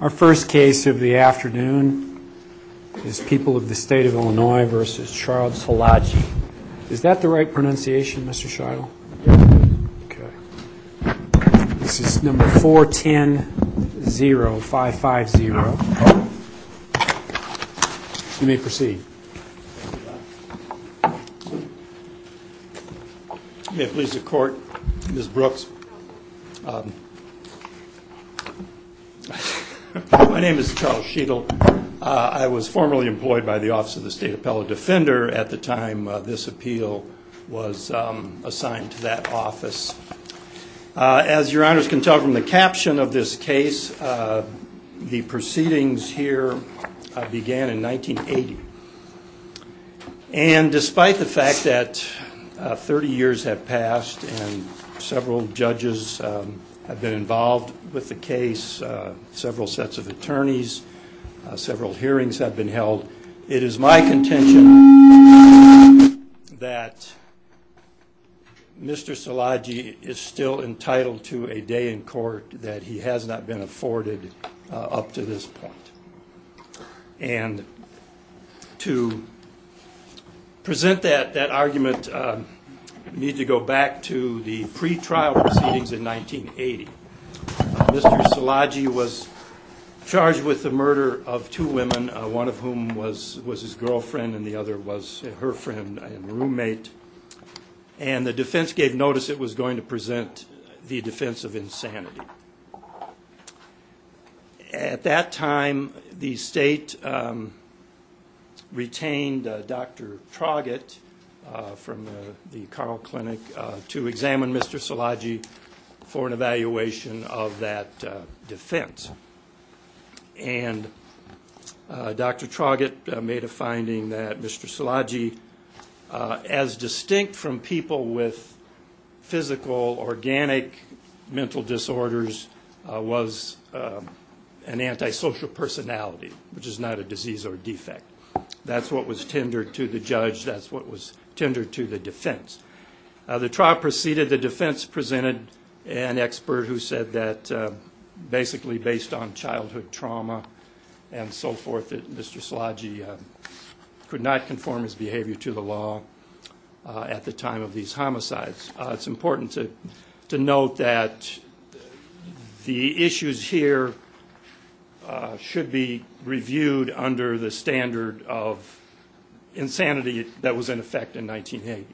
Our first case of the afternoon is People of the State of Illinois v. Charles Silagy. Is that the right pronunciation, Mr. Shiloh? This is number 410-0550. You may proceed. May it please the court, Ms. Brooks. My name is Charles Shiloh. I was formerly employed by the Office of the State Appellate Defender at the time this appeal was assigned to that office. As your honors can tell from the caption of this case, the proceedings here began in 1980. And despite the fact that 30 years have passed and several judges have been involved with the case, several sets of attorneys, several hearings have been held, it is my contention that Mr. Silagy is still entitled to a day in court that he has not been afforded up to this point. And to present that argument, we need to go back to the pretrial proceedings in 1980. Mr. Silagy was charged with the murder of two women, one of whom was his girlfriend and the other was her friend and roommate. And the defense gave notice it was going to present the defense of insanity. At that time, the state retained Dr. Traugott from the Carl Clinic to examine Mr. Silagy for an evaluation of that defense. And Dr. Traugott made a finding that Mr. Silagy, as distinct from people with physical, organic mental disorders, was an antisocial personality, which is not a disease or defect. That's what was tendered to the judge, that's what was tendered to the defense. The trial proceeded, the defense presented an expert who said that basically based on childhood trauma and so forth, that Mr. Silagy could not conform his behavior to the law at the time of these homicides. It's important to note that the issues here should be reviewed under the standard of insanity that was in effect in 1980,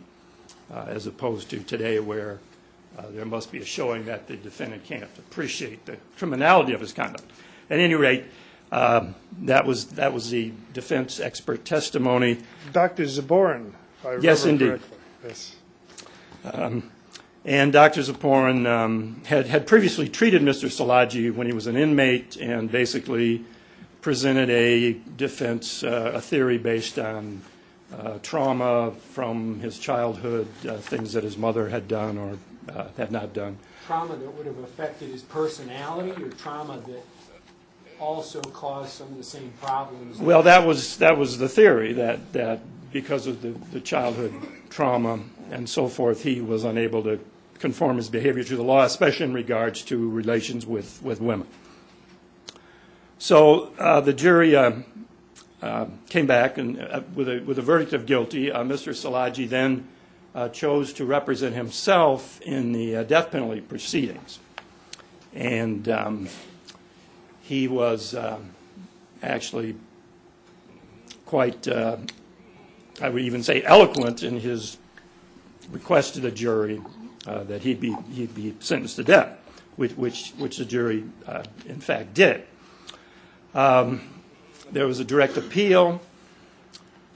as opposed to today where there must be a showing that the defendant can't appreciate the criminality of his conduct. At any rate, that was the defense expert testimony. Dr. Zaboran, if I remember correctly. Yes, indeed. And Dr. Zaboran had previously treated Mr. Silagy when he was an inmate and basically presented a defense, a theory based on trauma from his childhood, things that his mother had done or had not done. Trauma that would have affected his personality or trauma that also caused some of the same problems? Well, that was the theory, that because of the childhood trauma and so forth, he was unable to conform his behavior to the law, especially in regards to relations with women. So the jury came back with a verdict of guilty. Mr. Silagy then chose to represent himself in the death penalty proceedings. And he was actually quite, I would even say eloquent in his request to the jury that he'd be sentenced to death, which the jury in fact did. There was a direct appeal,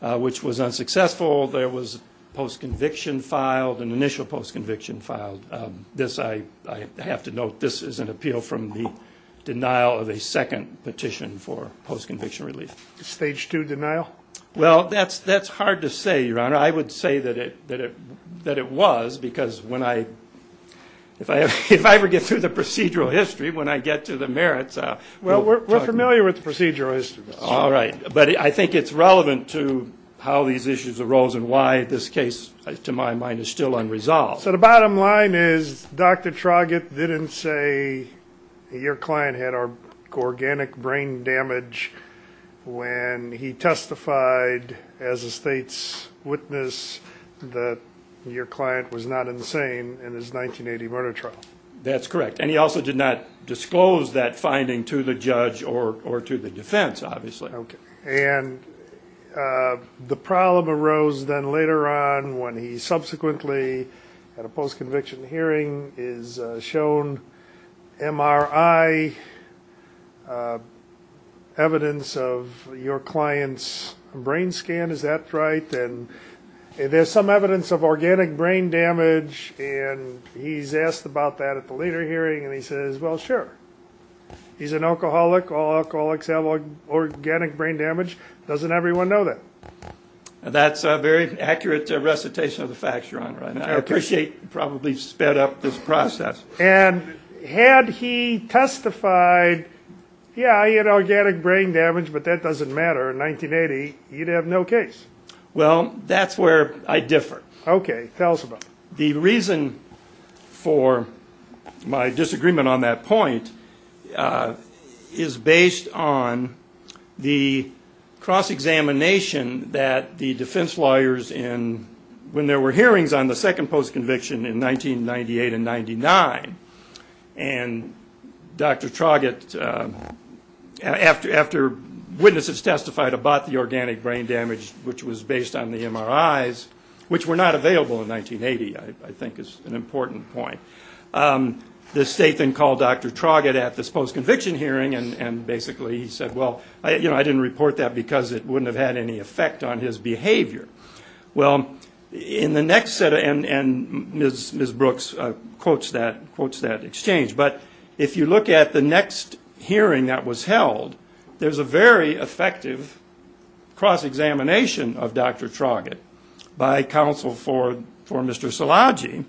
which was unsuccessful. There was a post-conviction filed, an initial post-conviction filed. This, I have to note, this is an appeal from the denial of a second petition for post-conviction relief. Stage two denial? Well, that's hard to say, Your Honor. I would say that it was because when I, if I ever get through the procedural history, when I get to the merits. Well, we're familiar with the procedural history. All right. But I think it's relevant to how these issues arose and why this case, to my mind, is still unresolved. So the bottom line is Dr. Traugott didn't say your client had organic brain damage when he testified as a state's witness that your client was not insane in his 1980 murder trial. That's correct. And he also did not disclose that finding to the judge or to the defense, obviously. And the problem arose then later on when he subsequently, at a post-conviction hearing, is shown MRI evidence of your client's brain scan. Is that right? And there's some evidence of organic brain damage, and he's asked about that at the later hearing, and he says, well, sure. He's an alcoholic. All alcoholics have organic brain damage. Doesn't everyone know that? That's a very accurate recitation of the facts, Your Honor. I appreciate you probably sped up this process. And had he testified, yeah, he had organic brain damage, but that doesn't matter, in 1980, he'd have no case. Well, that's where I differ. Okay. Tell us about it. The reason for my disagreement on that point is based on the cross-examination that the defense lawyers in when there were hearings on the second post-conviction in 1998 and 99, and Dr. Traugott, after witnesses testified about the organic brain damage, which was based on the MRIs, which were not available in 1980, I think is an important point. The state then called Dr. Traugott at this post-conviction hearing, and basically he said, well, you know, I didn't report that because it wouldn't have had any effect on his behavior. Well, in the next set of, and Ms. Brooks quotes that exchange, but if you look at the next hearing that was held, there's a very effective cross-examination of Dr. Traugott by counsel for Mr. Szilagyi,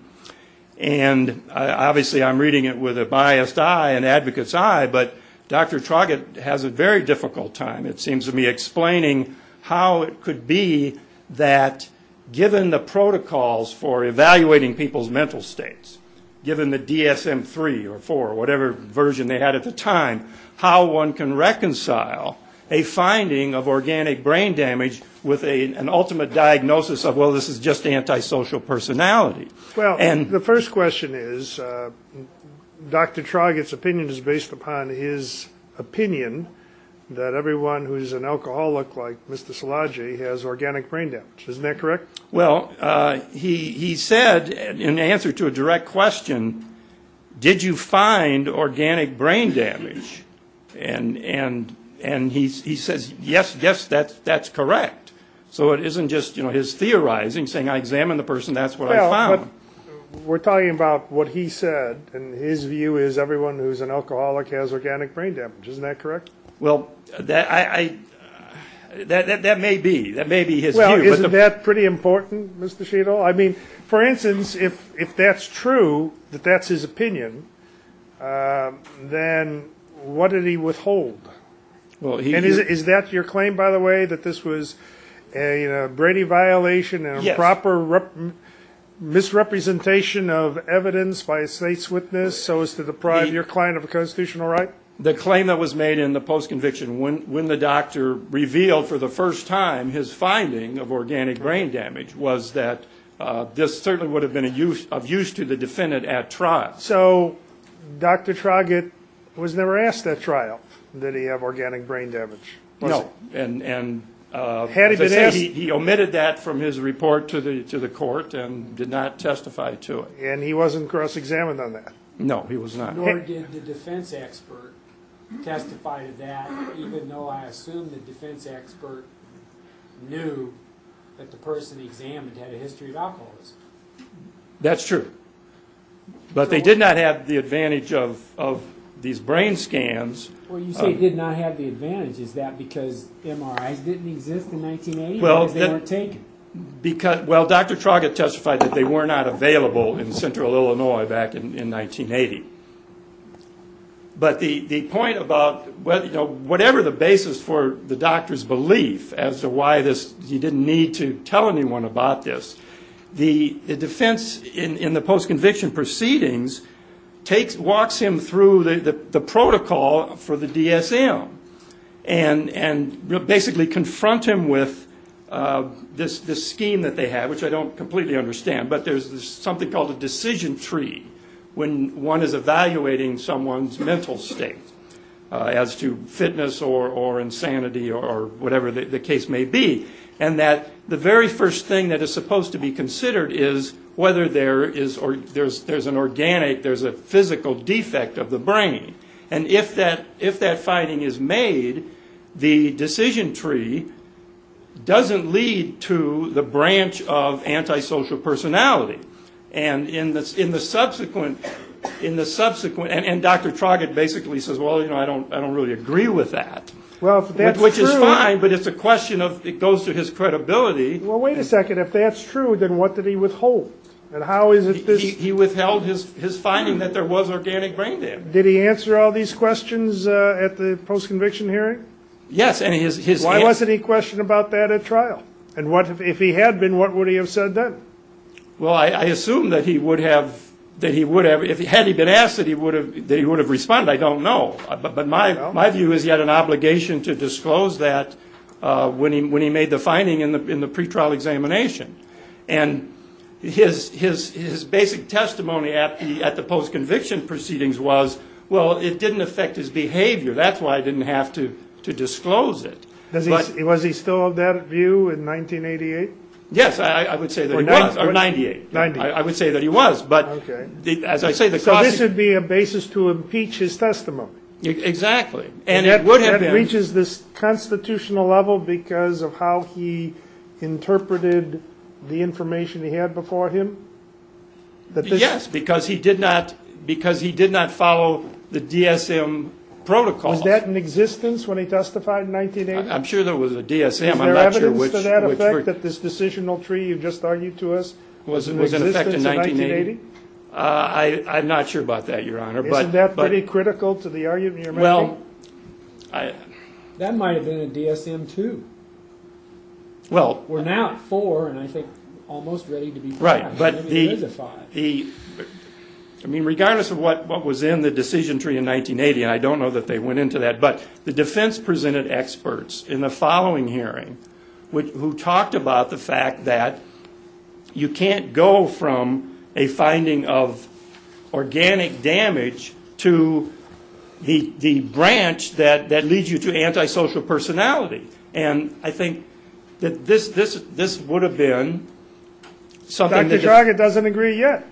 and obviously I'm reading it with a biased eye, an advocate's eye, but Dr. Traugott has a very difficult time, it seems to me, explaining how it could be that given the protocols for evaluating people's mental states, given the DSM-3 or 4 or whatever version they had at the time, how one can reconcile a finding of organic brain damage with an ultimate diagnosis of, well, this is just antisocial personality. Well, the first question is, Dr. Traugott's opinion is based upon his opinion that everyone who's an alcoholic like Mr. Szilagyi has organic brain damage. Isn't that correct? Well, he said in answer to a direct question, did you find organic brain damage? And he says, yes, yes, that's correct. So it isn't just his theorizing, saying I examined the person, that's what I found. Well, we're talking about what he said, and his view is everyone who's an alcoholic has organic brain damage. Isn't that correct? Well, that may be. That may be his view. Well, isn't that pretty important, Mr. Sheetal? I mean, for instance, if that's true, that that's his opinion, then what did he withhold? And is that your claim, by the way, that this was a Brady violation and a proper misrepresentation of evidence by a state's witness so as to deprive your client of a constitutional right? The claim that was made in the post-conviction when the doctor revealed for the first time his finding of organic brain damage was that this certainly would have been of use to the defendant at trial. So Dr. Traugott was never asked at trial did he have organic brain damage, was he? No. And he omitted that from his report to the court and did not testify to it. And he wasn't cross-examined on that? No, he was not. Nor did the defense expert testify to that, even though I assume the defense expert knew that the person examined had a history of alcoholism. That's true. But they did not have the advantage of these brain scans. Well, you say did not have the advantage. Is that because MRIs didn't exist in 1980 because they weren't taken? Well, Dr. Traugott testified that they were not available in central Illinois back in 1980. But the point about whatever the basis for the doctor's belief as to why he didn't need to tell anyone about this, the defense in the post-conviction proceedings walks him through the protocol for the DSM and basically confront him with this scheme that they have, which I don't completely understand. But there's something called a decision tree when one is evaluating someone's mental state as to fitness or insanity or whatever the case may be, and that the very first thing that is supposed to be considered is whether there is an organic, there's a physical defect of the brain. And if that finding is made, the decision tree doesn't lead to the branch of antisocial personality. And in the subsequent, and Dr. Traugott basically says, well, you know, I don't really agree with that. Well, if that's true. Which is fine, but it's a question of, it goes to his credibility. Well, wait a second. If that's true, then what did he withhold? He withheld his finding that there was organic brain damage. Did he answer all these questions at the post-conviction hearing? Yes. Why wasn't he questioned about that at trial? And if he had been, what would he have said then? Well, I assume that he would have, had he been asked that he would have responded, I don't know. But my view is he had an obligation to disclose that when he made the finding in the pretrial examination. And his basic testimony at the post-conviction proceedings was, well, it didn't affect his behavior. That's why I didn't have to disclose it. Was he still of that view in 1988? Yes, I would say that he was. Or 98. I would say that he was. So this would be a basis to impeach his testimony. Exactly. And that reaches this constitutional level because of how he interpreted the information he had before him? Yes, because he did not follow the DSM protocol. Was that in existence when he testified in 1980? I'm sure there was a DSM. Is there evidence to that effect that this decisional tree you just argued to us was in existence in 1980? I'm not sure about that, Your Honor. Isn't that pretty critical to the argument you're making? That might have been a DSM, too. We're now at four and, I think, almost ready to be five. Right. I mean, regardless of what was in the decision tree in 1980, and I don't know that they went into that, but the defense presented experts in the following hearing who talked about the fact that you can't go from a finding of organic damage to the branch that leads you to antisocial personality. And I think that this would have been something that is. Dr. Jarget doesn't agree yet.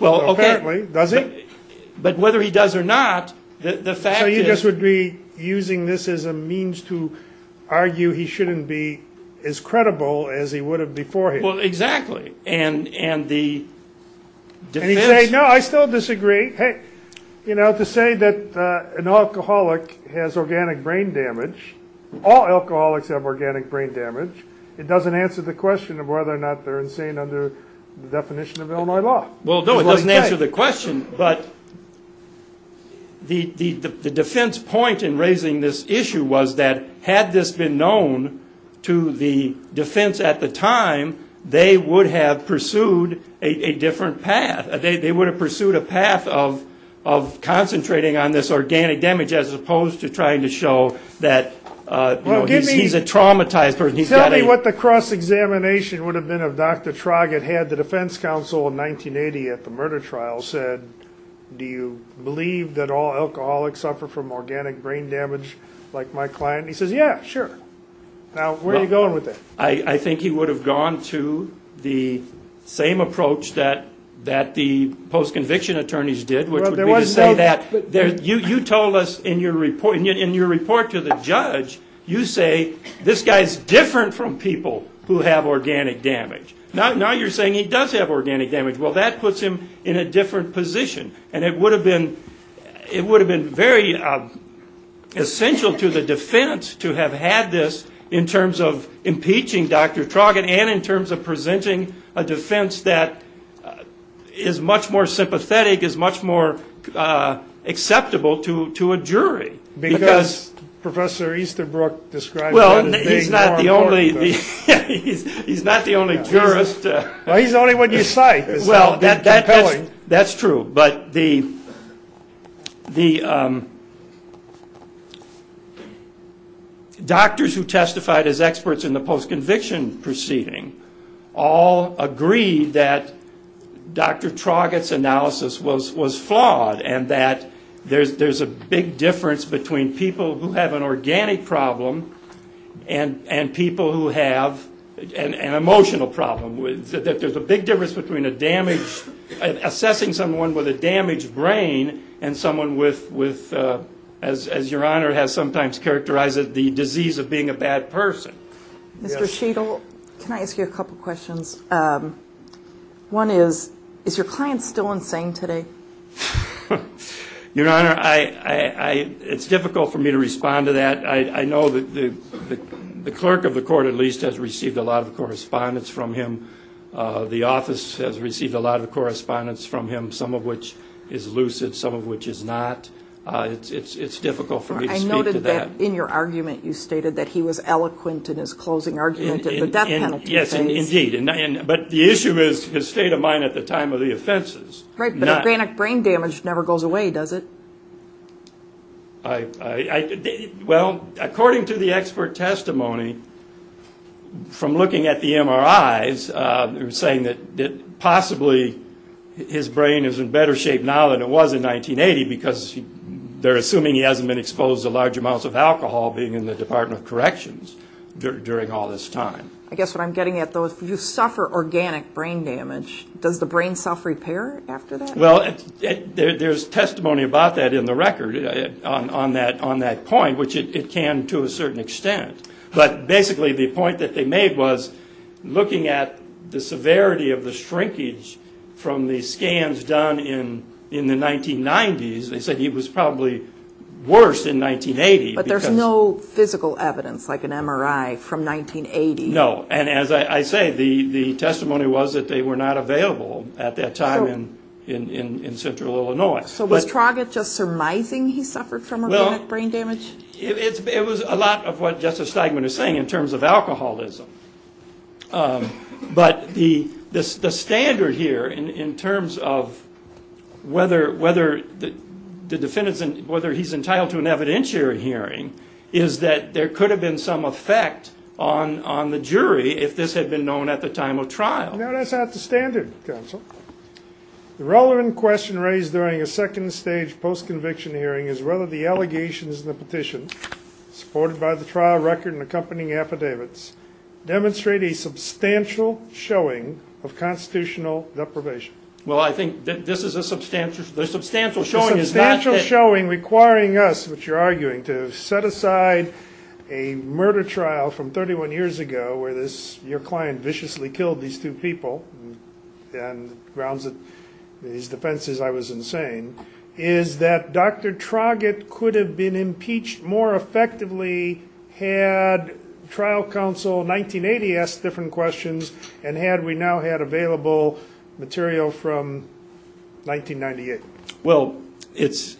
Well, okay. Apparently, does he? But whether he does or not, the fact is. The defense would be using this as a means to argue he shouldn't be as credible as he would have before him. Well, exactly. And the defense. No, I still disagree. Hey, you know, to say that an alcoholic has organic brain damage, all alcoholics have organic brain damage, it doesn't answer the question of whether or not they're insane under the definition of Illinois law. Well, no, it doesn't answer the question. But the defense point in raising this issue was that had this been known to the defense at the time, they would have pursued a different path. They would have pursued a path of concentrating on this organic damage as opposed to trying to show that, you know, he's a traumatized person. Tell me what the cross-examination would have been if Dr. Jarget had the defense counsel in 1980 at the murder trial said, do you believe that all alcoholics suffer from organic brain damage like my client? He says, yeah, sure. Now, where are you going with that? I think he would have gone to the same approach that the post-conviction attorneys did, which would be to say that. You told us in your report to the judge, you say, this guy's different from people who have organic damage. Now you're saying he does have organic damage. Well, that puts him in a different position. And it would have been very essential to the defense to have had this in terms of impeaching Dr. Jarget and in terms of presenting a defense that is much more sympathetic, is much more acceptable to a jury. Because Professor Easterbrook describes that as being more important. Well, he's not the only jurist. Well, he's the only one you cite. Well, that's true. But the doctors who testified as experts in the post-conviction proceeding all agreed that Dr. Jarget's analysis was flawed and that there's a big difference between people who have an organic problem and people who have an emotional problem. That there's a big difference between assessing someone with a damaged brain and someone with, as Your Honor has sometimes characterized it, the disease of being a bad person. Mr. Sheagle, can I ask you a couple questions? One is, is your client still insane today? Your Honor, it's difficult for me to respond to that. I know that the clerk of the court at least has received a lot of correspondence from him. The office has received a lot of correspondence from him, some of which is lucid, some of which is not. It's difficult for me to speak to that. I noted that in your argument you stated that he was eloquent in his closing argument at the death penalty case. Yes, indeed. But the issue is his state of mind at the time of the offenses. Right, but organic brain damage never goes away, does it? Well, according to the expert testimony, from looking at the MRIs, they were saying that possibly his brain is in better shape now than it was in 1980 because they're assuming he hasn't been exposed to large amounts of alcohol being in the Department of Corrections during all this time. I guess what I'm getting at, though, is if you suffer organic brain damage, does the brain self-repair after that? Well, there's testimony about that in the record on that point, which it can to a certain extent. But basically the point that they made was looking at the severity of the shrinkage from the scans done in the 1990s, they said he was probably worse in 1980. But there's no physical evidence like an MRI from 1980. No, and as I say, the testimony was that they were not available at that time in central Illinois. So was Traugott just surmising he suffered from organic brain damage? It was a lot of what Justice Steigman is saying in terms of alcoholism. But the standard here in terms of whether he's entitled to an evidentiary hearing is that there could have been some effect on the jury if this had been known at the time of trial. No, that's not the standard, counsel. The relevant question raised during a second-stage post-conviction hearing is whether the allegations in the petition, supported by the trial record and accompanying affidavits, demonstrate a substantial showing of constitutional deprivation. Well, I think this is a substantial showing. A substantial showing requiring us, which you're arguing, to set aside a murder trial from 31 years ago where your client viciously killed these two people and grounds these defenses I was insane, is that Dr. Traugott could have been impeached more effectively had trial counsel in 1980 asked different questions and had we now had available material from 1998. Well, it's...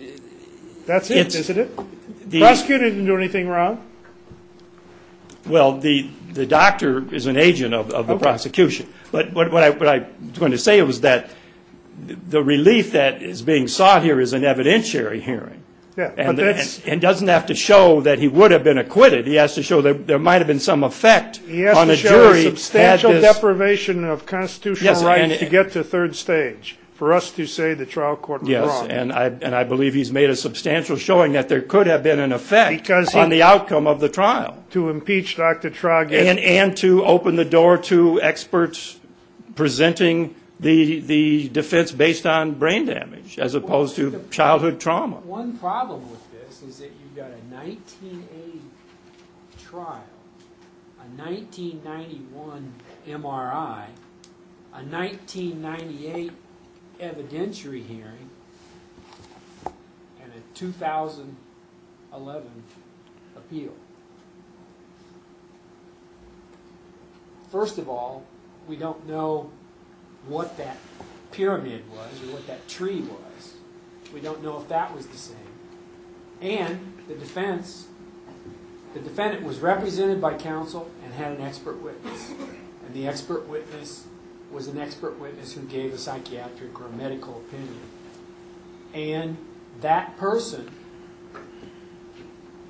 That's it, isn't it? The prosecutor didn't do anything wrong. Well, the doctor is an agent of the prosecution. But what I was going to say was that the relief that is being sought here is an evidentiary hearing and doesn't have to show that he would have been acquitted. He has to show there might have been some effect on a jury... He has to show a substantial deprivation of constitutional rights to get to third stage for us to say the trial court was wrong. Yes, and I believe he's made a substantial showing that there could have been an effect on the outcome of the trial. To impeach Dr. Traugott. And to open the door to experts presenting the defense based on brain damage as opposed to childhood trauma. One problem with this is that you've got a 1908 trial, a 1991 MRI, a 1998 evidentiary hearing, and a 2011 appeal. First of all, we don't know what that pyramid was or what that tree was. We don't know if that was the same. And the defendant was represented by counsel and had an expert witness. And the expert witness was an expert witness who gave a psychiatric or medical opinion. And that person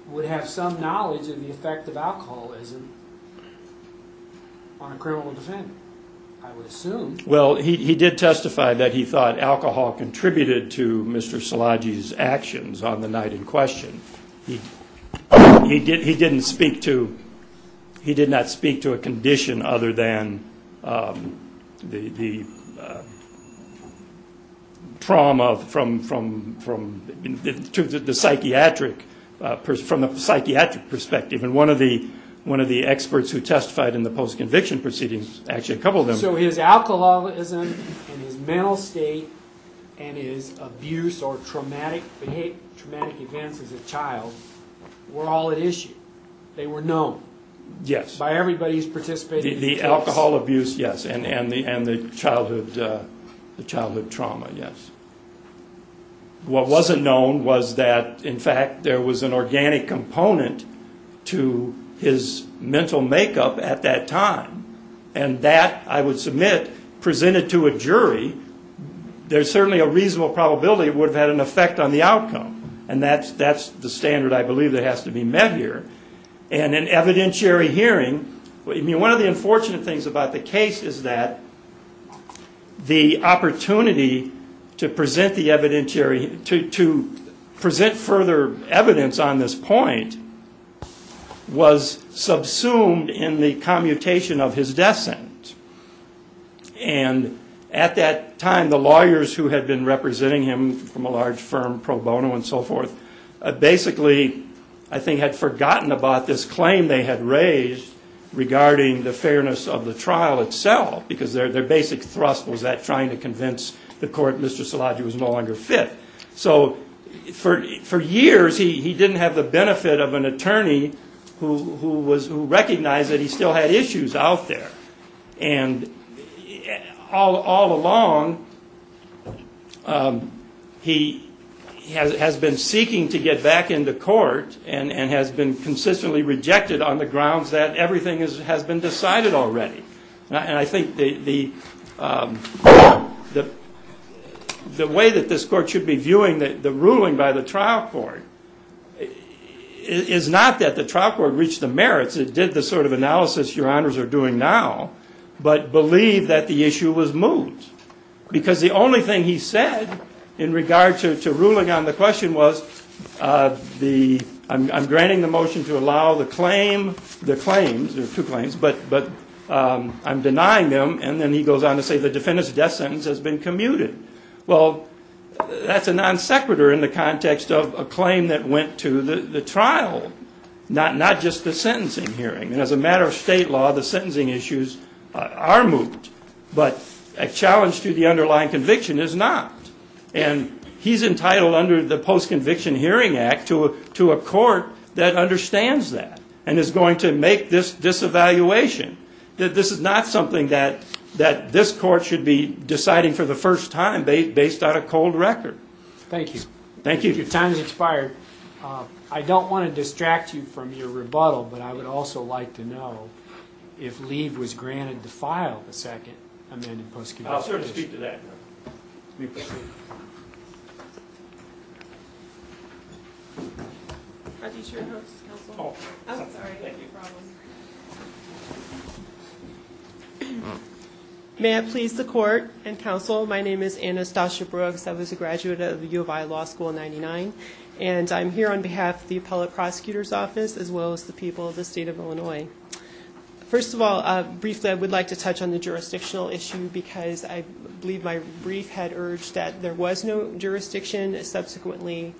would have some knowledge of the effect of alcoholism on a criminal defendant, I would assume. Well, he did testify that he thought alcohol contributed to Mr. Szilagyi's actions on the night in question. He did not speak to a condition other than the trauma from the psychiatric perspective. And one of the experts who testified in the post-conviction proceedings actually coupled them. So his alcoholism and his mental state and his abuse or traumatic events as a child were all at issue. They were known. Yes. By everybody who's participated in the case. The alcohol abuse, yes, and the childhood trauma, yes. What wasn't known was that, in fact, there was an organic component to his mental makeup at that time. And that, I would submit, presented to a jury, there's certainly a reasonable probability it would have had an effect on the outcome. And that's the standard, I believe, that has to be met here. And an evidentiary hearing, I mean, one of the unfortunate things about the case is that the opportunity to present the evidentiary, to present further evidence on this point was subsumed in the commutation of his death sentence. And at that time, the lawyers who had been representing him from a large firm, Pro Bono and so forth, basically, I think, had forgotten about this claim they had raised regarding the fairness of the trial itself because their basic thrust was that trying to convince the court Mr. Szilagyi was no longer fit. So for years, he didn't have the benefit of an attorney who recognized that he still had issues out there. And all along, he has been seeking to get back into court and has been consistently rejected on the grounds that everything has been decided already. And I think the way that this court should be viewing the ruling by the trial court is not that the trial court reached the merits, it did the sort of analysis your honors are doing now, but believe that the issue was moved. Because the only thing he said in regard to ruling on the question was, I'm granting the motion to allow the claim, there are two claims, but I'm denying them. And then he goes on to say the defendant's death sentence has been commuted. Well, that's a non sequitur in the context of a claim that went to the trial, not just the sentencing hearing. And as a matter of state law, the sentencing issues are moved. But a challenge to the underlying conviction is not. And he's entitled under the Post-Conviction Hearing Act to a court that understands that and is going to make this evaluation. This is not something that this court should be deciding for the first time based on a cold record. Thank you. Thank you. Your time has expired. I don't want to distract you from your rebuttal, but I would also like to know if leave was granted to file the second amended post-conviction hearing. I'll certainly speak to that. May I please the court and counsel? My name is Anastasia Brooks. I was a graduate of U of I Law School in 99. And I'm here on behalf of the appellate prosecutor's office as well as the people of the state of Illinois. First of all, briefly, I would like to touch on the jurisdictional issue because I believe my brief had urged that there was no jurisdiction. Subsequently,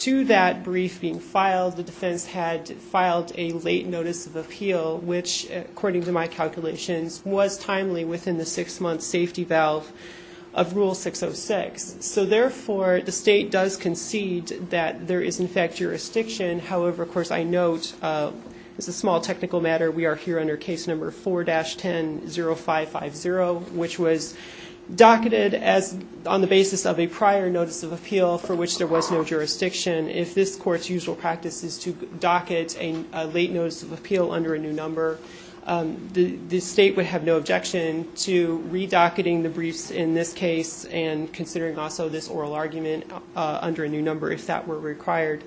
to that brief being filed, the defense had filed a late notice of appeal, which according to my calculations was timely within the six-month safety valve of Rule 606. So, therefore, the state does concede that there is, in fact, jurisdiction. However, of course, I note, as a small technical matter, we are here under case number 4-10-0550, which was docketed on the basis of a prior notice of appeal for which there was no jurisdiction. If this court's usual practice is to docket a late notice of appeal under a new number, the state would have no objection to redocketing the briefs in this case and considering also this oral argument under a new number if that were required.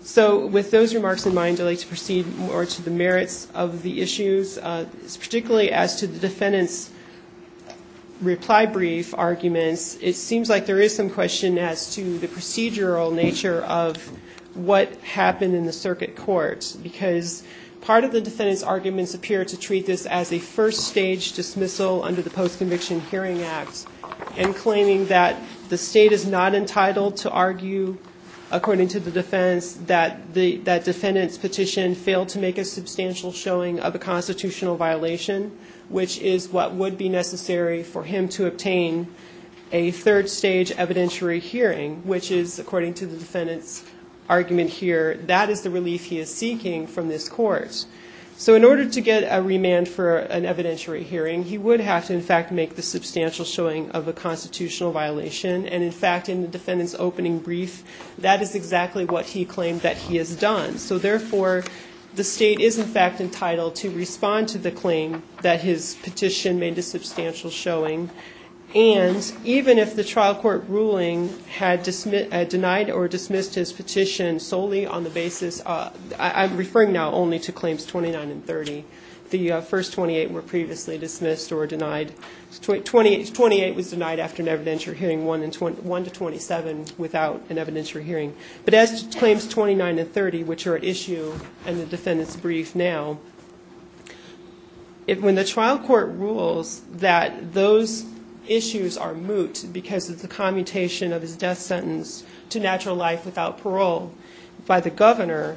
So with those remarks in mind, I'd like to proceed more to the merits of the issues, particularly as to the defendant's reply brief arguments. It seems like there is some question as to the procedural nature of what happened in the circuit court because part of the defendant's arguments appear to treat this as a first-stage dismissal under the Post-Conviction Hearing Act and claiming that the state is not entitled to argue, according to the defense, that the defendant's petition failed to make a substantial showing of a constitutional violation, which is what would be necessary for him to obtain a third-stage evidentiary hearing, which is, according to the defendant's argument here, that is the relief he is seeking from this court. So in order to get a remand for an evidentiary hearing, he would have to, in fact, make the substantial showing of a constitutional violation, and, in fact, in the defendant's opening brief, that is exactly what he claimed that he has done. So, therefore, the state is, in fact, entitled to respond to the claim that his petition made a substantial showing, and even if the trial court ruling had denied or dismissed his petition solely on the basis of I'm referring now only to Claims 29 and 30. The first 28 were previously dismissed or denied. 28 was denied after an evidentiary hearing, 1 to 27 without an evidentiary hearing. But as to Claims 29 and 30, which are at issue in the defendant's brief now, when the trial court rules that those issues are moot because of the commutation of his death sentence to natural life without parole by the governor,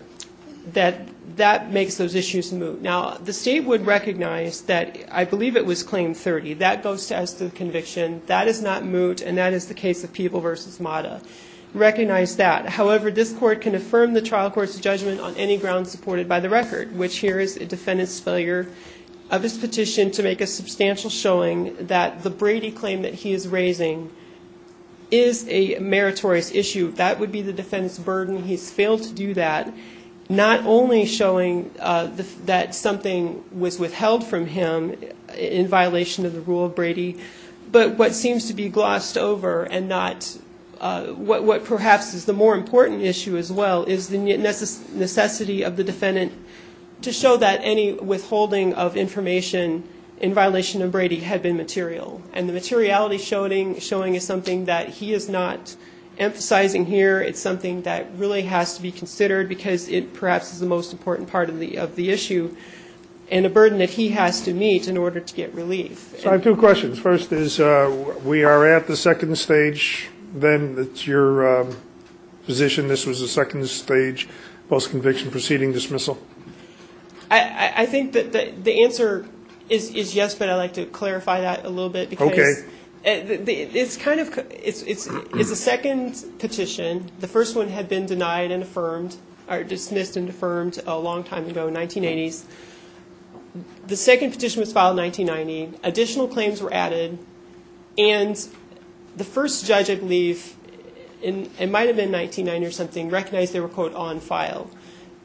that that makes those issues moot. Now, the state would recognize that I believe it was Claim 30. That goes as to the conviction. That is not moot, and that is the case of Peeble v. Mata. Recognize that. However, this court can affirm the trial court's judgment on any grounds supported by the record, which here is a defendant's failure of his petition to make a substantial showing that the Brady claim that he is raising is a meritorious issue. That would be the defendant's burden. He's failed to do that, not only showing that something was withheld from him in violation of the rule of Brady, but what seems to be glossed over and not what perhaps is the more important issue as well is the necessity of the defendant to show that any withholding of information in violation of Brady had been material. And the materiality showing is something that he is not emphasizing here. It's something that really has to be considered because it perhaps is the most important part of the issue and a burden that he has to meet in order to get relief. So I have two questions. First is we are at the second stage. Then it's your position this was the second stage post-conviction proceeding dismissal? I think that the answer is yes, but I'd like to clarify that a little bit. Okay. It's a second petition. The first one had been denied and affirmed or dismissed and affirmed a long time ago, 1980s. The second petition was filed in 1990. Additional claims were added. And the first judge, I believe, it might have been 1999 or something, recognized they were, quote, on file.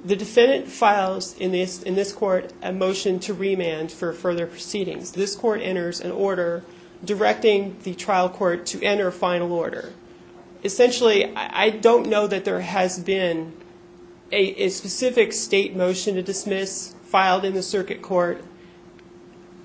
The defendant files in this court a motion to remand for further proceedings. This court enters an order directing the trial court to enter a final order. Essentially, I don't know that there has been a specific state motion to dismiss filed in the circuit court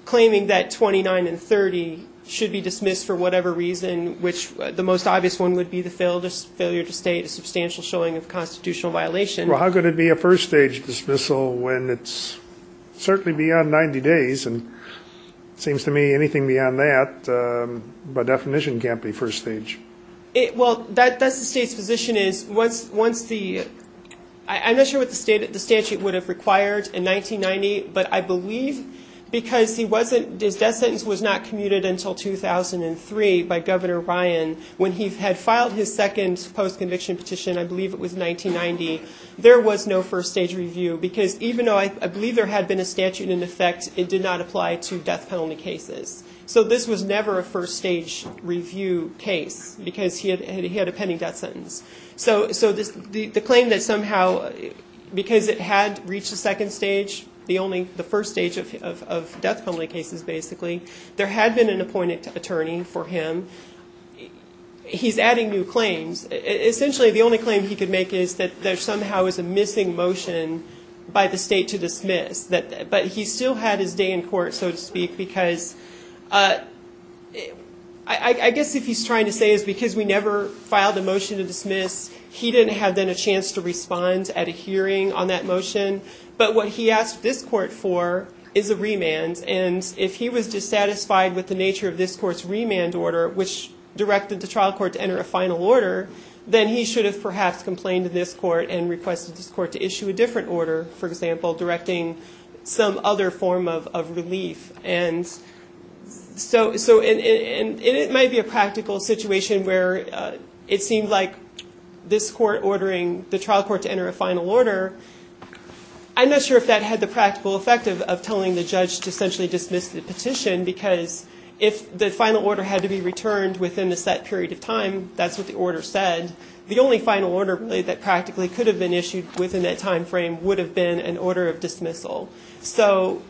claiming that 29 and 30 should be dismissed for whatever reason, which the most obvious one would be the failure to state a substantial showing of constitutional violation. Well, how could it be a first-stage dismissal when it's certainly beyond 90 days? And it seems to me anything beyond that by definition can't be first stage. Well, that's the state's position is once the, I'm not sure what the statute would have required in 1990, but I believe because he wasn't, his death sentence was not commuted until 2003 by Governor Ryan. When he had filed his second post-conviction petition, I believe it was 1990, there was no first-stage review because even though I believe there had been a statute in effect, it did not apply to death penalty cases. So this was never a first-stage review case because he had a pending death sentence. So the claim that somehow, because it had reached the second stage, the first stage of death penalty cases basically, there had been an appointed attorney for him. And he's adding new claims. Essentially the only claim he could make is that there somehow is a missing motion by the state to dismiss. But he still had his day in court, so to speak, because I guess if he's trying to say is because we never filed a motion to dismiss, he didn't have then a chance to respond at a hearing on that motion. But what he asked this court for is a remand. And if he was dissatisfied with the nature of this court's remand order, which directed the trial court to enter a final order, then he should have perhaps complained to this court and requested this court to issue a different order, for example, directing some other form of relief. And it might be a practical situation where it seemed like this court ordering the trial court to enter a final order. I'm not sure if that had the practical effect of telling the judge to essentially dismiss the petition because if the final order had to be returned within a set period of time, that's what the order said, the only final order that practically could have been issued within that time frame would have been an order of dismissal. So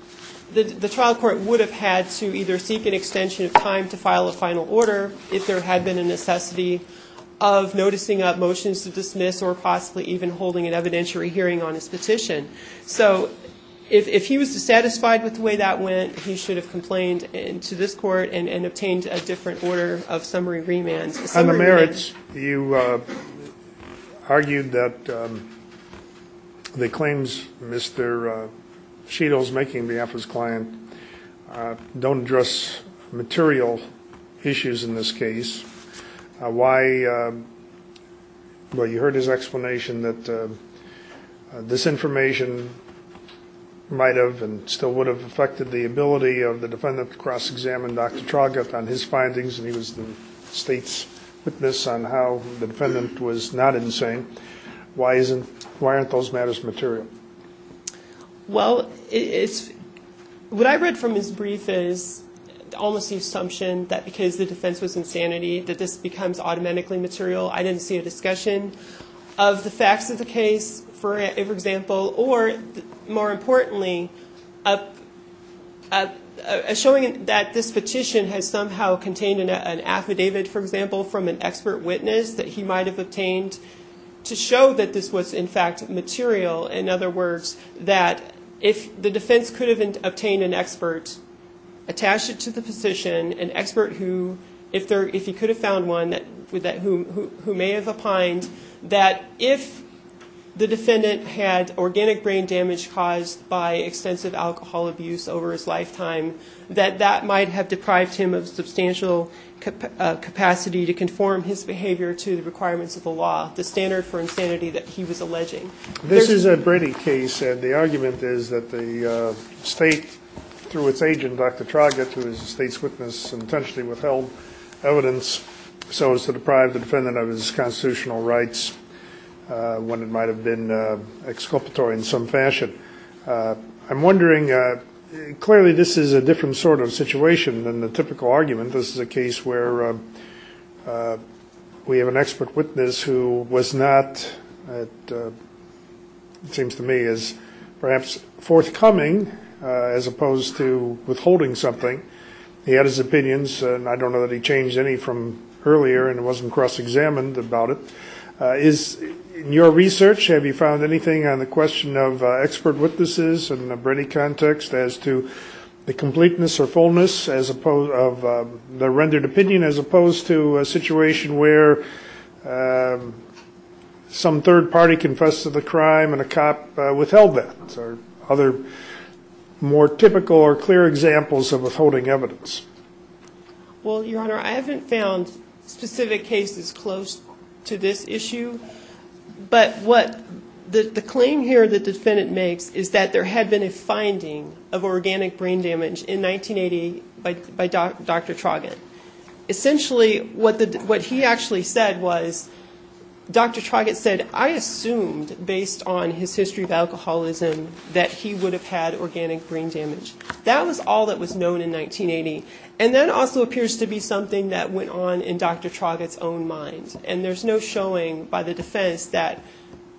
the trial court would have had to either seek an extension of time to file a final order if there had been a necessity of noticing motions to dismiss or possibly even holding an evidentiary hearing on his petition. So if he was dissatisfied with the way that went, he should have complained to this court and obtained a different order of summary remand. On the merits, you argued that the claims Mr. Cheadle is making on behalf of his client don't address material issues in this case. You heard his explanation that this information might have and still would have affected the ability of the defendant to cross-examine Dr. Traugott on his findings and he was the state's witness on how the defendant was not insane. Why aren't those matters material? Well, what I read from his brief is almost the assumption that because the defense was insanity that this becomes automatically material. I didn't see a discussion of the facts of the case, for example, or more importantly, showing that this petition has somehow contained an affidavit, for example, from an expert witness that he might have obtained to show that this was in fact material. In other words, that if the defense could have obtained an expert, attached it to the position, an expert who, if he could have found one who may have opined, that if the defendant had organic brain damage caused by extensive alcohol abuse over his lifetime, that that might have deprived him of substantial capacity to conform his behavior to the requirements of the law, the standard for insanity that he was alleging. This is a Brady case, and the argument is that the state, through its agent, Dr. Traugott, who is the state's witness, intentionally withheld evidence so as to deprive the defendant of his constitutional rights when it might have been exculpatory in some fashion. I'm wondering, clearly this is a different sort of situation than the typical argument. This is a case where we have an expert witness who was not, it seems to me, as perhaps forthcoming as opposed to withholding something, he had his opinions, and I don't know that he changed any from earlier and wasn't cross-examined about it. In your research, have you found anything on the question of expert witnesses in a Brady context as to the completeness or fullness of the rendered opinion as opposed to a situation where some third party confessed to the crime and a cop withheld that? Are there other more typical or clear examples of withholding evidence? Well, Your Honor, I haven't found specific cases close to this issue, but what the claim here the defendant makes is that there had been a finding of organic brain damage in 1980 by Dr. Traugott. Essentially what he actually said was, Dr. Traugott said, and I assumed, based on his history of alcoholism, that he would have had organic brain damage. That was all that was known in 1980, and that also appears to be something that went on in Dr. Traugott's own mind. And there's no showing by the defense that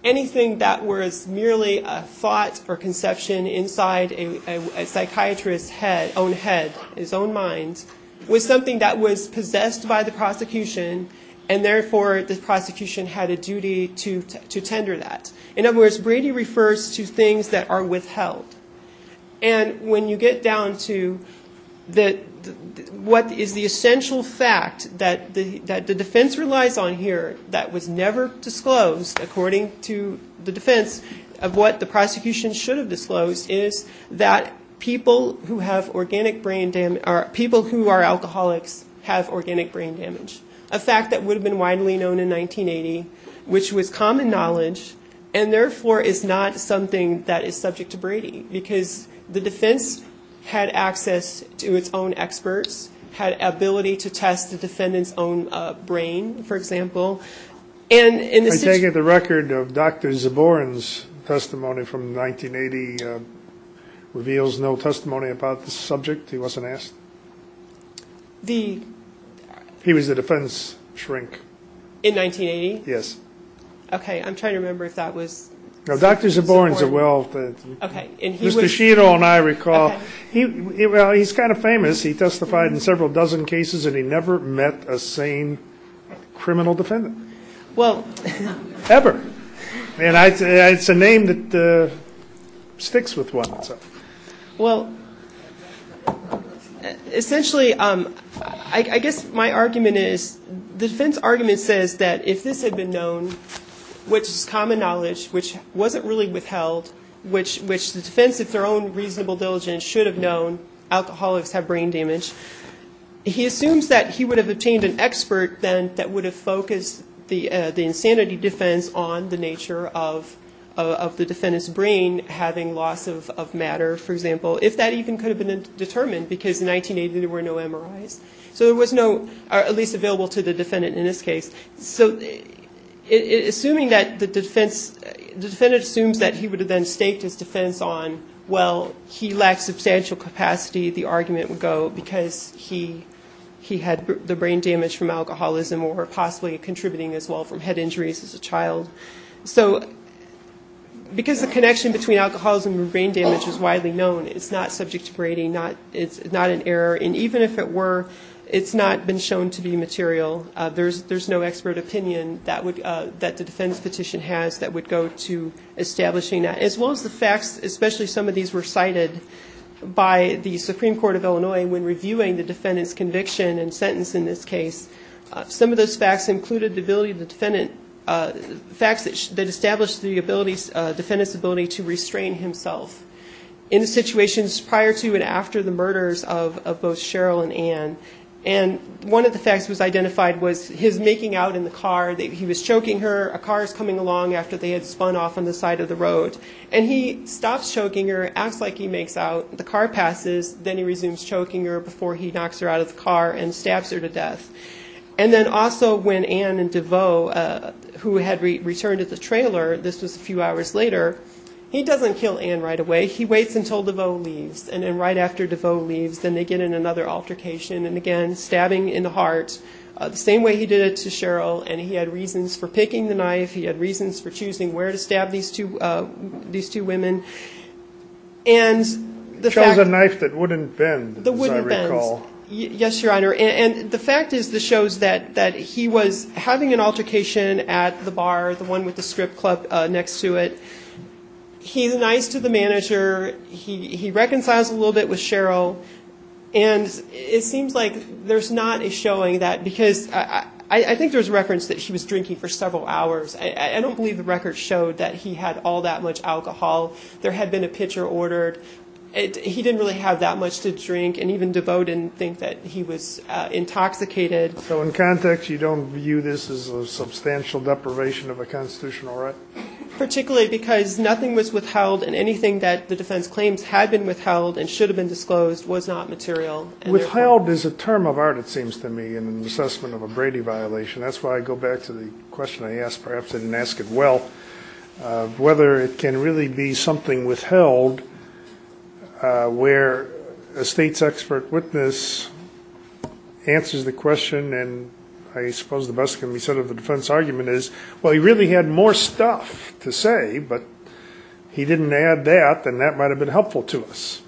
anything that was merely a thought or conception inside a psychiatrist's own head, his own mind, was something that was possessed by the prosecution, and therefore the prosecution had a duty to tender that. In other words, Brady refers to things that are withheld. And when you get down to what is the essential fact that the defense relies on here that was never disclosed, according to the defense, of what the prosecution should have disclosed, is that people who are alcoholics have organic brain damage. A fact that would have been widely known in 1980, which was common knowledge, and therefore is not something that is subject to Brady, because the defense had access to its own experts, had ability to test the defendant's own brain, for example. And in the situation... I take it the record of Dr. Zaborin's testimony from 1980 reveals no testimony about the subject? He wasn't asked? He was the defense shrink. In 1980? Yes. Okay, I'm trying to remember if that was Zaborin. No, Dr. Zaborin's a well- Mr. Shiro and I recall. Well, he's kind of famous. He testified in several dozen cases, and he never met a sane criminal defendant. Ever. It's a name that sticks with one. Well, essentially, I guess my argument is, the defense argument says that if this had been known, which is common knowledge, which wasn't really withheld, which the defense of their own reasonable diligence should have known, alcoholics have brain damage, he assumes that he would have obtained an expert then that would have focused the insanity defense on the nature of the defendant's brain, having loss of matter, for example, if that even could have been determined, because in 1980 there were no MRIs. So there was no, or at least available to the defendant in this case. So assuming that the defense, the defendant assumes that he would have then staked his defense on, well, he lacked substantial capacity, the argument would go, because he had the brain damage from alcoholism or possibly contributing as well from head injuries as a child. So because the connection between alcoholism and brain damage is widely known, it's not subject to grading, it's not an error, and even if it were, it's not been shown to be material. There's no expert opinion that the defense petition has that would go to establishing that, as well as the facts, especially some of these were cited by the Supreme Court of Illinois when reviewing the defendant's conviction and sentence in this case. Some of those facts included the ability of the defendant, facts that established the ability, defendant's ability to restrain himself in the situations prior to and after the murders of both Cheryl and Ann. And one of the facts was identified was his making out in the car, that he was choking her, a car is coming along after they had spun off on the side of the road, and he stops choking her, acts like he makes out, the car passes, then he resumes choking her before he knocks her out of the car and stabs her to death. And then also when Ann and DeVoe, who had returned to the trailer, this was a few hours later, he doesn't kill Ann right away, he waits until DeVoe leaves, and then right after DeVoe leaves, then they get in another altercation, and again, stabbing in the heart. The same way he did it to Cheryl, and he had reasons for picking the knife, he had reasons for choosing where to stab these two women. It shows a knife that wouldn't bend, as I recall. Yes, Your Honor, and the fact is this shows that he was having an altercation at the bar, the one with the strip club next to it. He's nice to the manager, he reconciles a little bit with Cheryl, and it seems like there's not a showing that, because I think there's records that he was drinking for several hours. I don't believe the records showed that he had all that much alcohol. There had been a pitcher ordered. He didn't really have that much to drink, and even DeVoe didn't think that he was intoxicated. So in context, you don't view this as a substantial deprivation of a constitutional right? Particularly because nothing was withheld, and anything that the defense claims had been withheld and should have been disclosed was not material. Withheld is a term of art, it seems to me, in an assessment of a Brady violation. That's why I go back to the question I asked, perhaps I didn't ask it well, whether it can really be something withheld where a state's expert witness answers the question and I suppose the best can be said of the defense argument is, well, he really had more stuff to say, but he didn't add that, and that might have been helpful to us.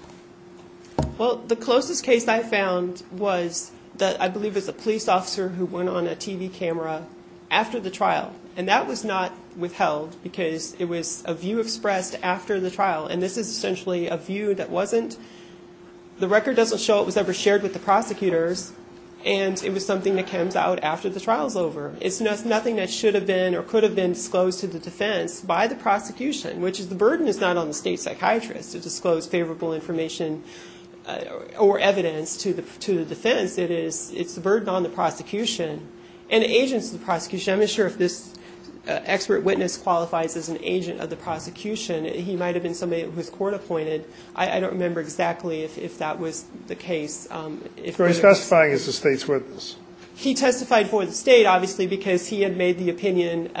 Well, the closest case I found was that I believe it was a police officer who went on a TV camera after the trial, and that was not withheld because it was a view expressed after the trial, and this is essentially a view that wasn't, the record doesn't show it was ever shared with the prosecutors, and it was something that comes out after the trial's over. It's nothing that should have been or could have been disclosed to the defense by the prosecution, which is the burden is not on the state psychiatrist to disclose favorable information or evidence to the defense. It's the burden on the prosecution and agents of the prosecution. I'm not sure if this expert witness qualifies as an agent of the prosecution. He might have been somebody who was court appointed. I don't remember exactly if that was the case. He testified for the state, obviously, because he had made the opinion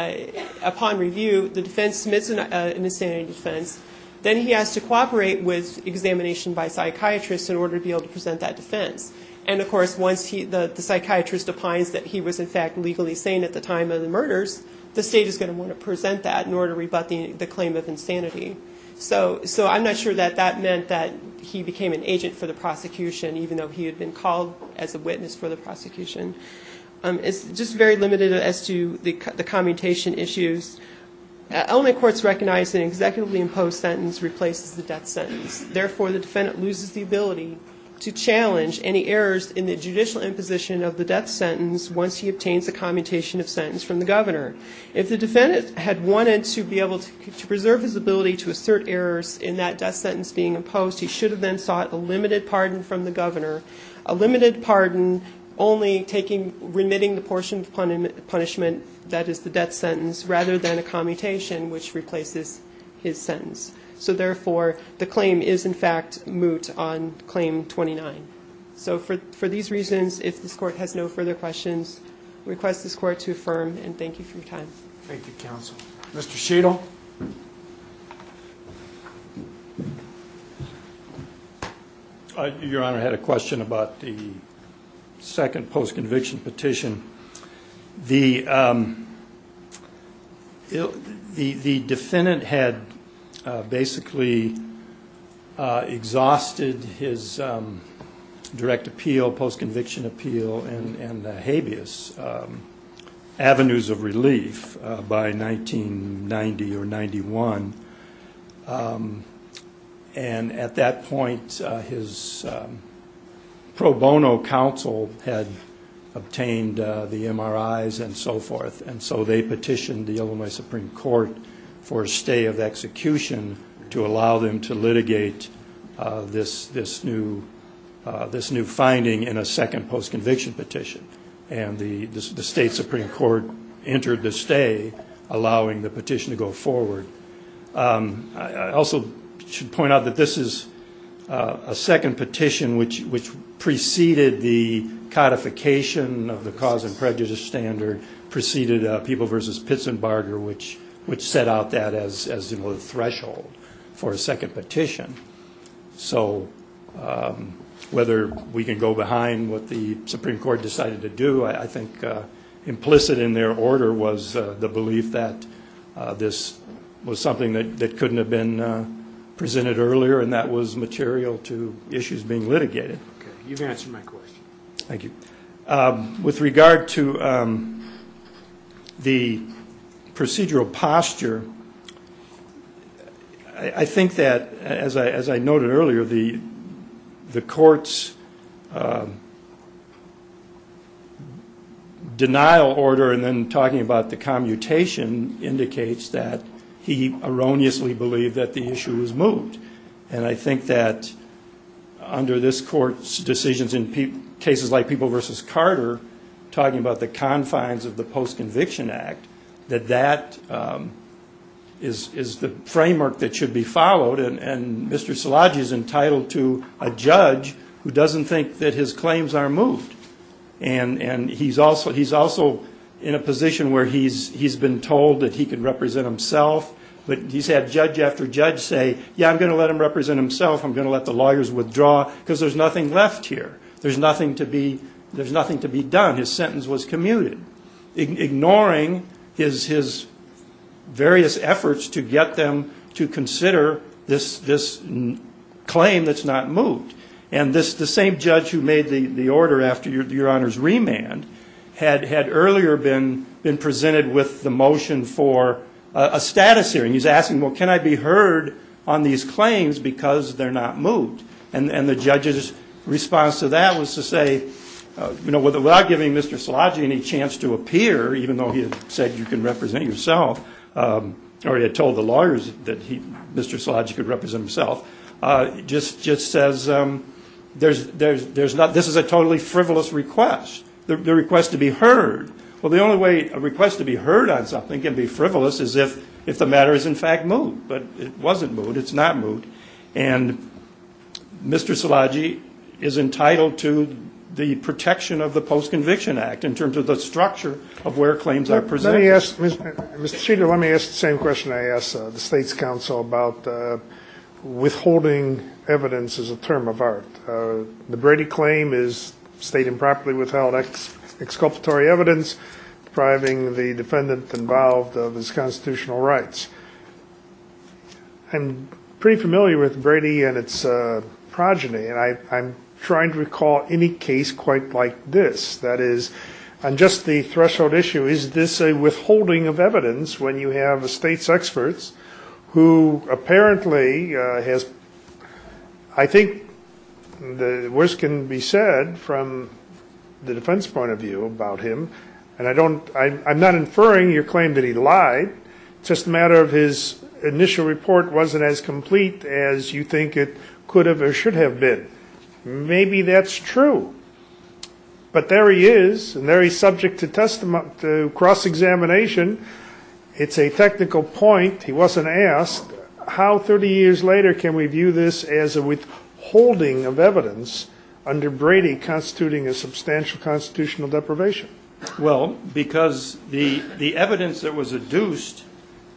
upon review the defense submits an insanity defense. Then he has to cooperate with examination by psychiatrists in order to be able to present that defense. And, of course, once the psychiatrist opines that he was, in fact, legally sane at the time of the murders, the state is going to want to present that in order to rebut the claim of insanity. So I'm not sure that that meant that he became an agent for the prosecution, even though he had been called as a witness for the prosecution. It's just very limited as to the commutation issues. Element courts recognize an executively imposed sentence replaces the death sentence. Therefore, the defendant loses the ability to challenge any errors in the judicial imposition of the death sentence once he obtains a commutation of sentence from the governor. If the defendant had wanted to be able to preserve his ability to assert errors in that death sentence being imposed, he should have then sought a limited pardon from the governor, a limited pardon only remitting the portion of punishment that is the death sentence rather than a commutation which replaces his sentence. So, therefore, the claim is, in fact, moot on Claim 29. So for these reasons, if this Court has no further questions, request this Court to affirm, and thank you for your time. Thank you, Counsel. Mr. Sheetal? Your Honor, I had a question about the second post-conviction petition. The defendant had basically exhausted his direct appeal, post-conviction appeal, and habeas avenues of relief by 1990 or 91. And at that point, his pro bono counsel had obtained a petition from the MRIs and so forth, and so they petitioned the Illinois Supreme Court for a stay of execution to allow them to litigate this new finding in a second post-conviction petition. And the state Supreme Court entered the stay, allowing the petition to go forward. I also should point out that this is a second petition which preceded the codification of the cause of conviction as a prejudice standard, preceded People v. Pitsenbarger, which set out that as the threshold for a second petition. So whether we can go behind what the Supreme Court decided to do, I think implicit in their order was the belief that this was something that couldn't have been presented earlier and that was material to issues being litigated. You've answered my question. Thank you. With regard to the procedural posture, I think that, as I noted earlier, the court's denial order and then talking about the commutation indicates that he erroneously believed that the issue was moved. And I think that under this court's decisions in cases like People v. Carter, talking about the confines of the post-conviction act, that that is the framework that should be followed. And Mr. Szilagyi is entitled to a judge who doesn't think that his claims are moved. And he's also in a position where he's been told that he can represent himself, but he's had judge after judge say, yeah, I'm going to let him represent himself, I'm going to let the lawyers withdraw, because there's nothing left here. There's nothing to be done. His sentence was commuted, ignoring his various efforts to get them to consider this claim that's not moved. And the same judge who made the order after Your Honor's remand had earlier been in a press hearing, he's asking, well, can I be heard on these claims because they're not moved? And the judge's response to that was to say, you know, without giving Mr. Szilagyi any chance to appear, even though he had said you can represent yourself, or he had told the lawyers that Mr. Szilagyi could represent himself, just says, this is a totally frivolous request, the request to be heard. Well, the only way a request to be heard on something can be frivolous is if the matter is in fact moved. But it wasn't moved. It's not moved. And Mr. Szilagyi is entitled to the protection of the Post-Conviction Act in terms of the structure of where claims are presented. Mr. Sheter, let me ask the same question I asked the State's counsel about withholding evidence as a term of art. The Brady claim is state improperly withheld exculpatory evidence depriving the defendant involved of his constitutional rights. I'm pretty familiar with Brady and its progeny, and I'm trying to recall any case quite like this. That is, on just the threshold issue, is this a withholding of evidence when you have the State's experts who apparently has, I think the worst can be said from the defense point of view about him, and I'm not inferring your claim that he lied. It's just a matter of his initial report wasn't as complete as you think it could have or should have been. Maybe that's true, but there he is, and there he's subject to cross-examination. It's a technical point. He wasn't asked how 30 years later can we view this as a withholding of evidence under Brady constituting a substantial constitutional deprivation. Well, because the evidence that was adduced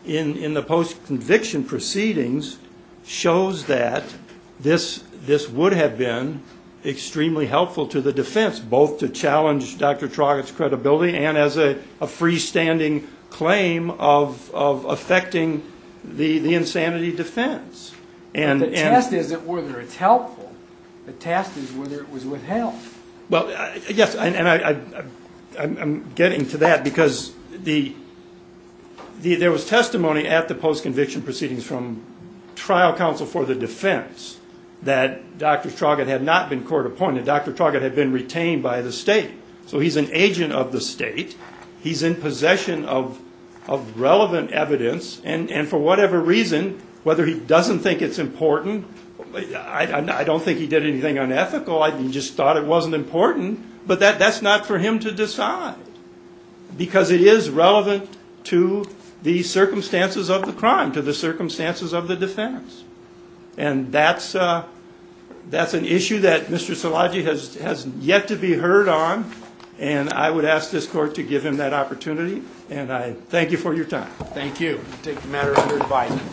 in the post-conviction proceedings shows that this would have been extremely helpful to the defense, both to challenge Dr. Traugott's credibility and as a freestanding claim of affecting the insanity defense. But the test isn't whether it's helpful. The test is whether it was withheld. There was testimony at the post-conviction proceedings from trial counsel for the defense that Dr. Traugott had not been court-appointed. Dr. Traugott had been retained by the State. So he's an agent of the State. He's in possession of relevant evidence, and for whatever reason, whether he doesn't think it's important, I don't think he did anything unethical. He just thought it wasn't important. But that's not for him to decide, because it is relevant to the circumstances of the crime, to the circumstances of the defense. And that's an issue that Mr. Szilagyi has yet to be heard on. And I would ask this Court to give him that opportunity. And I thank you for your time. Thank you. I take the matter under advisement.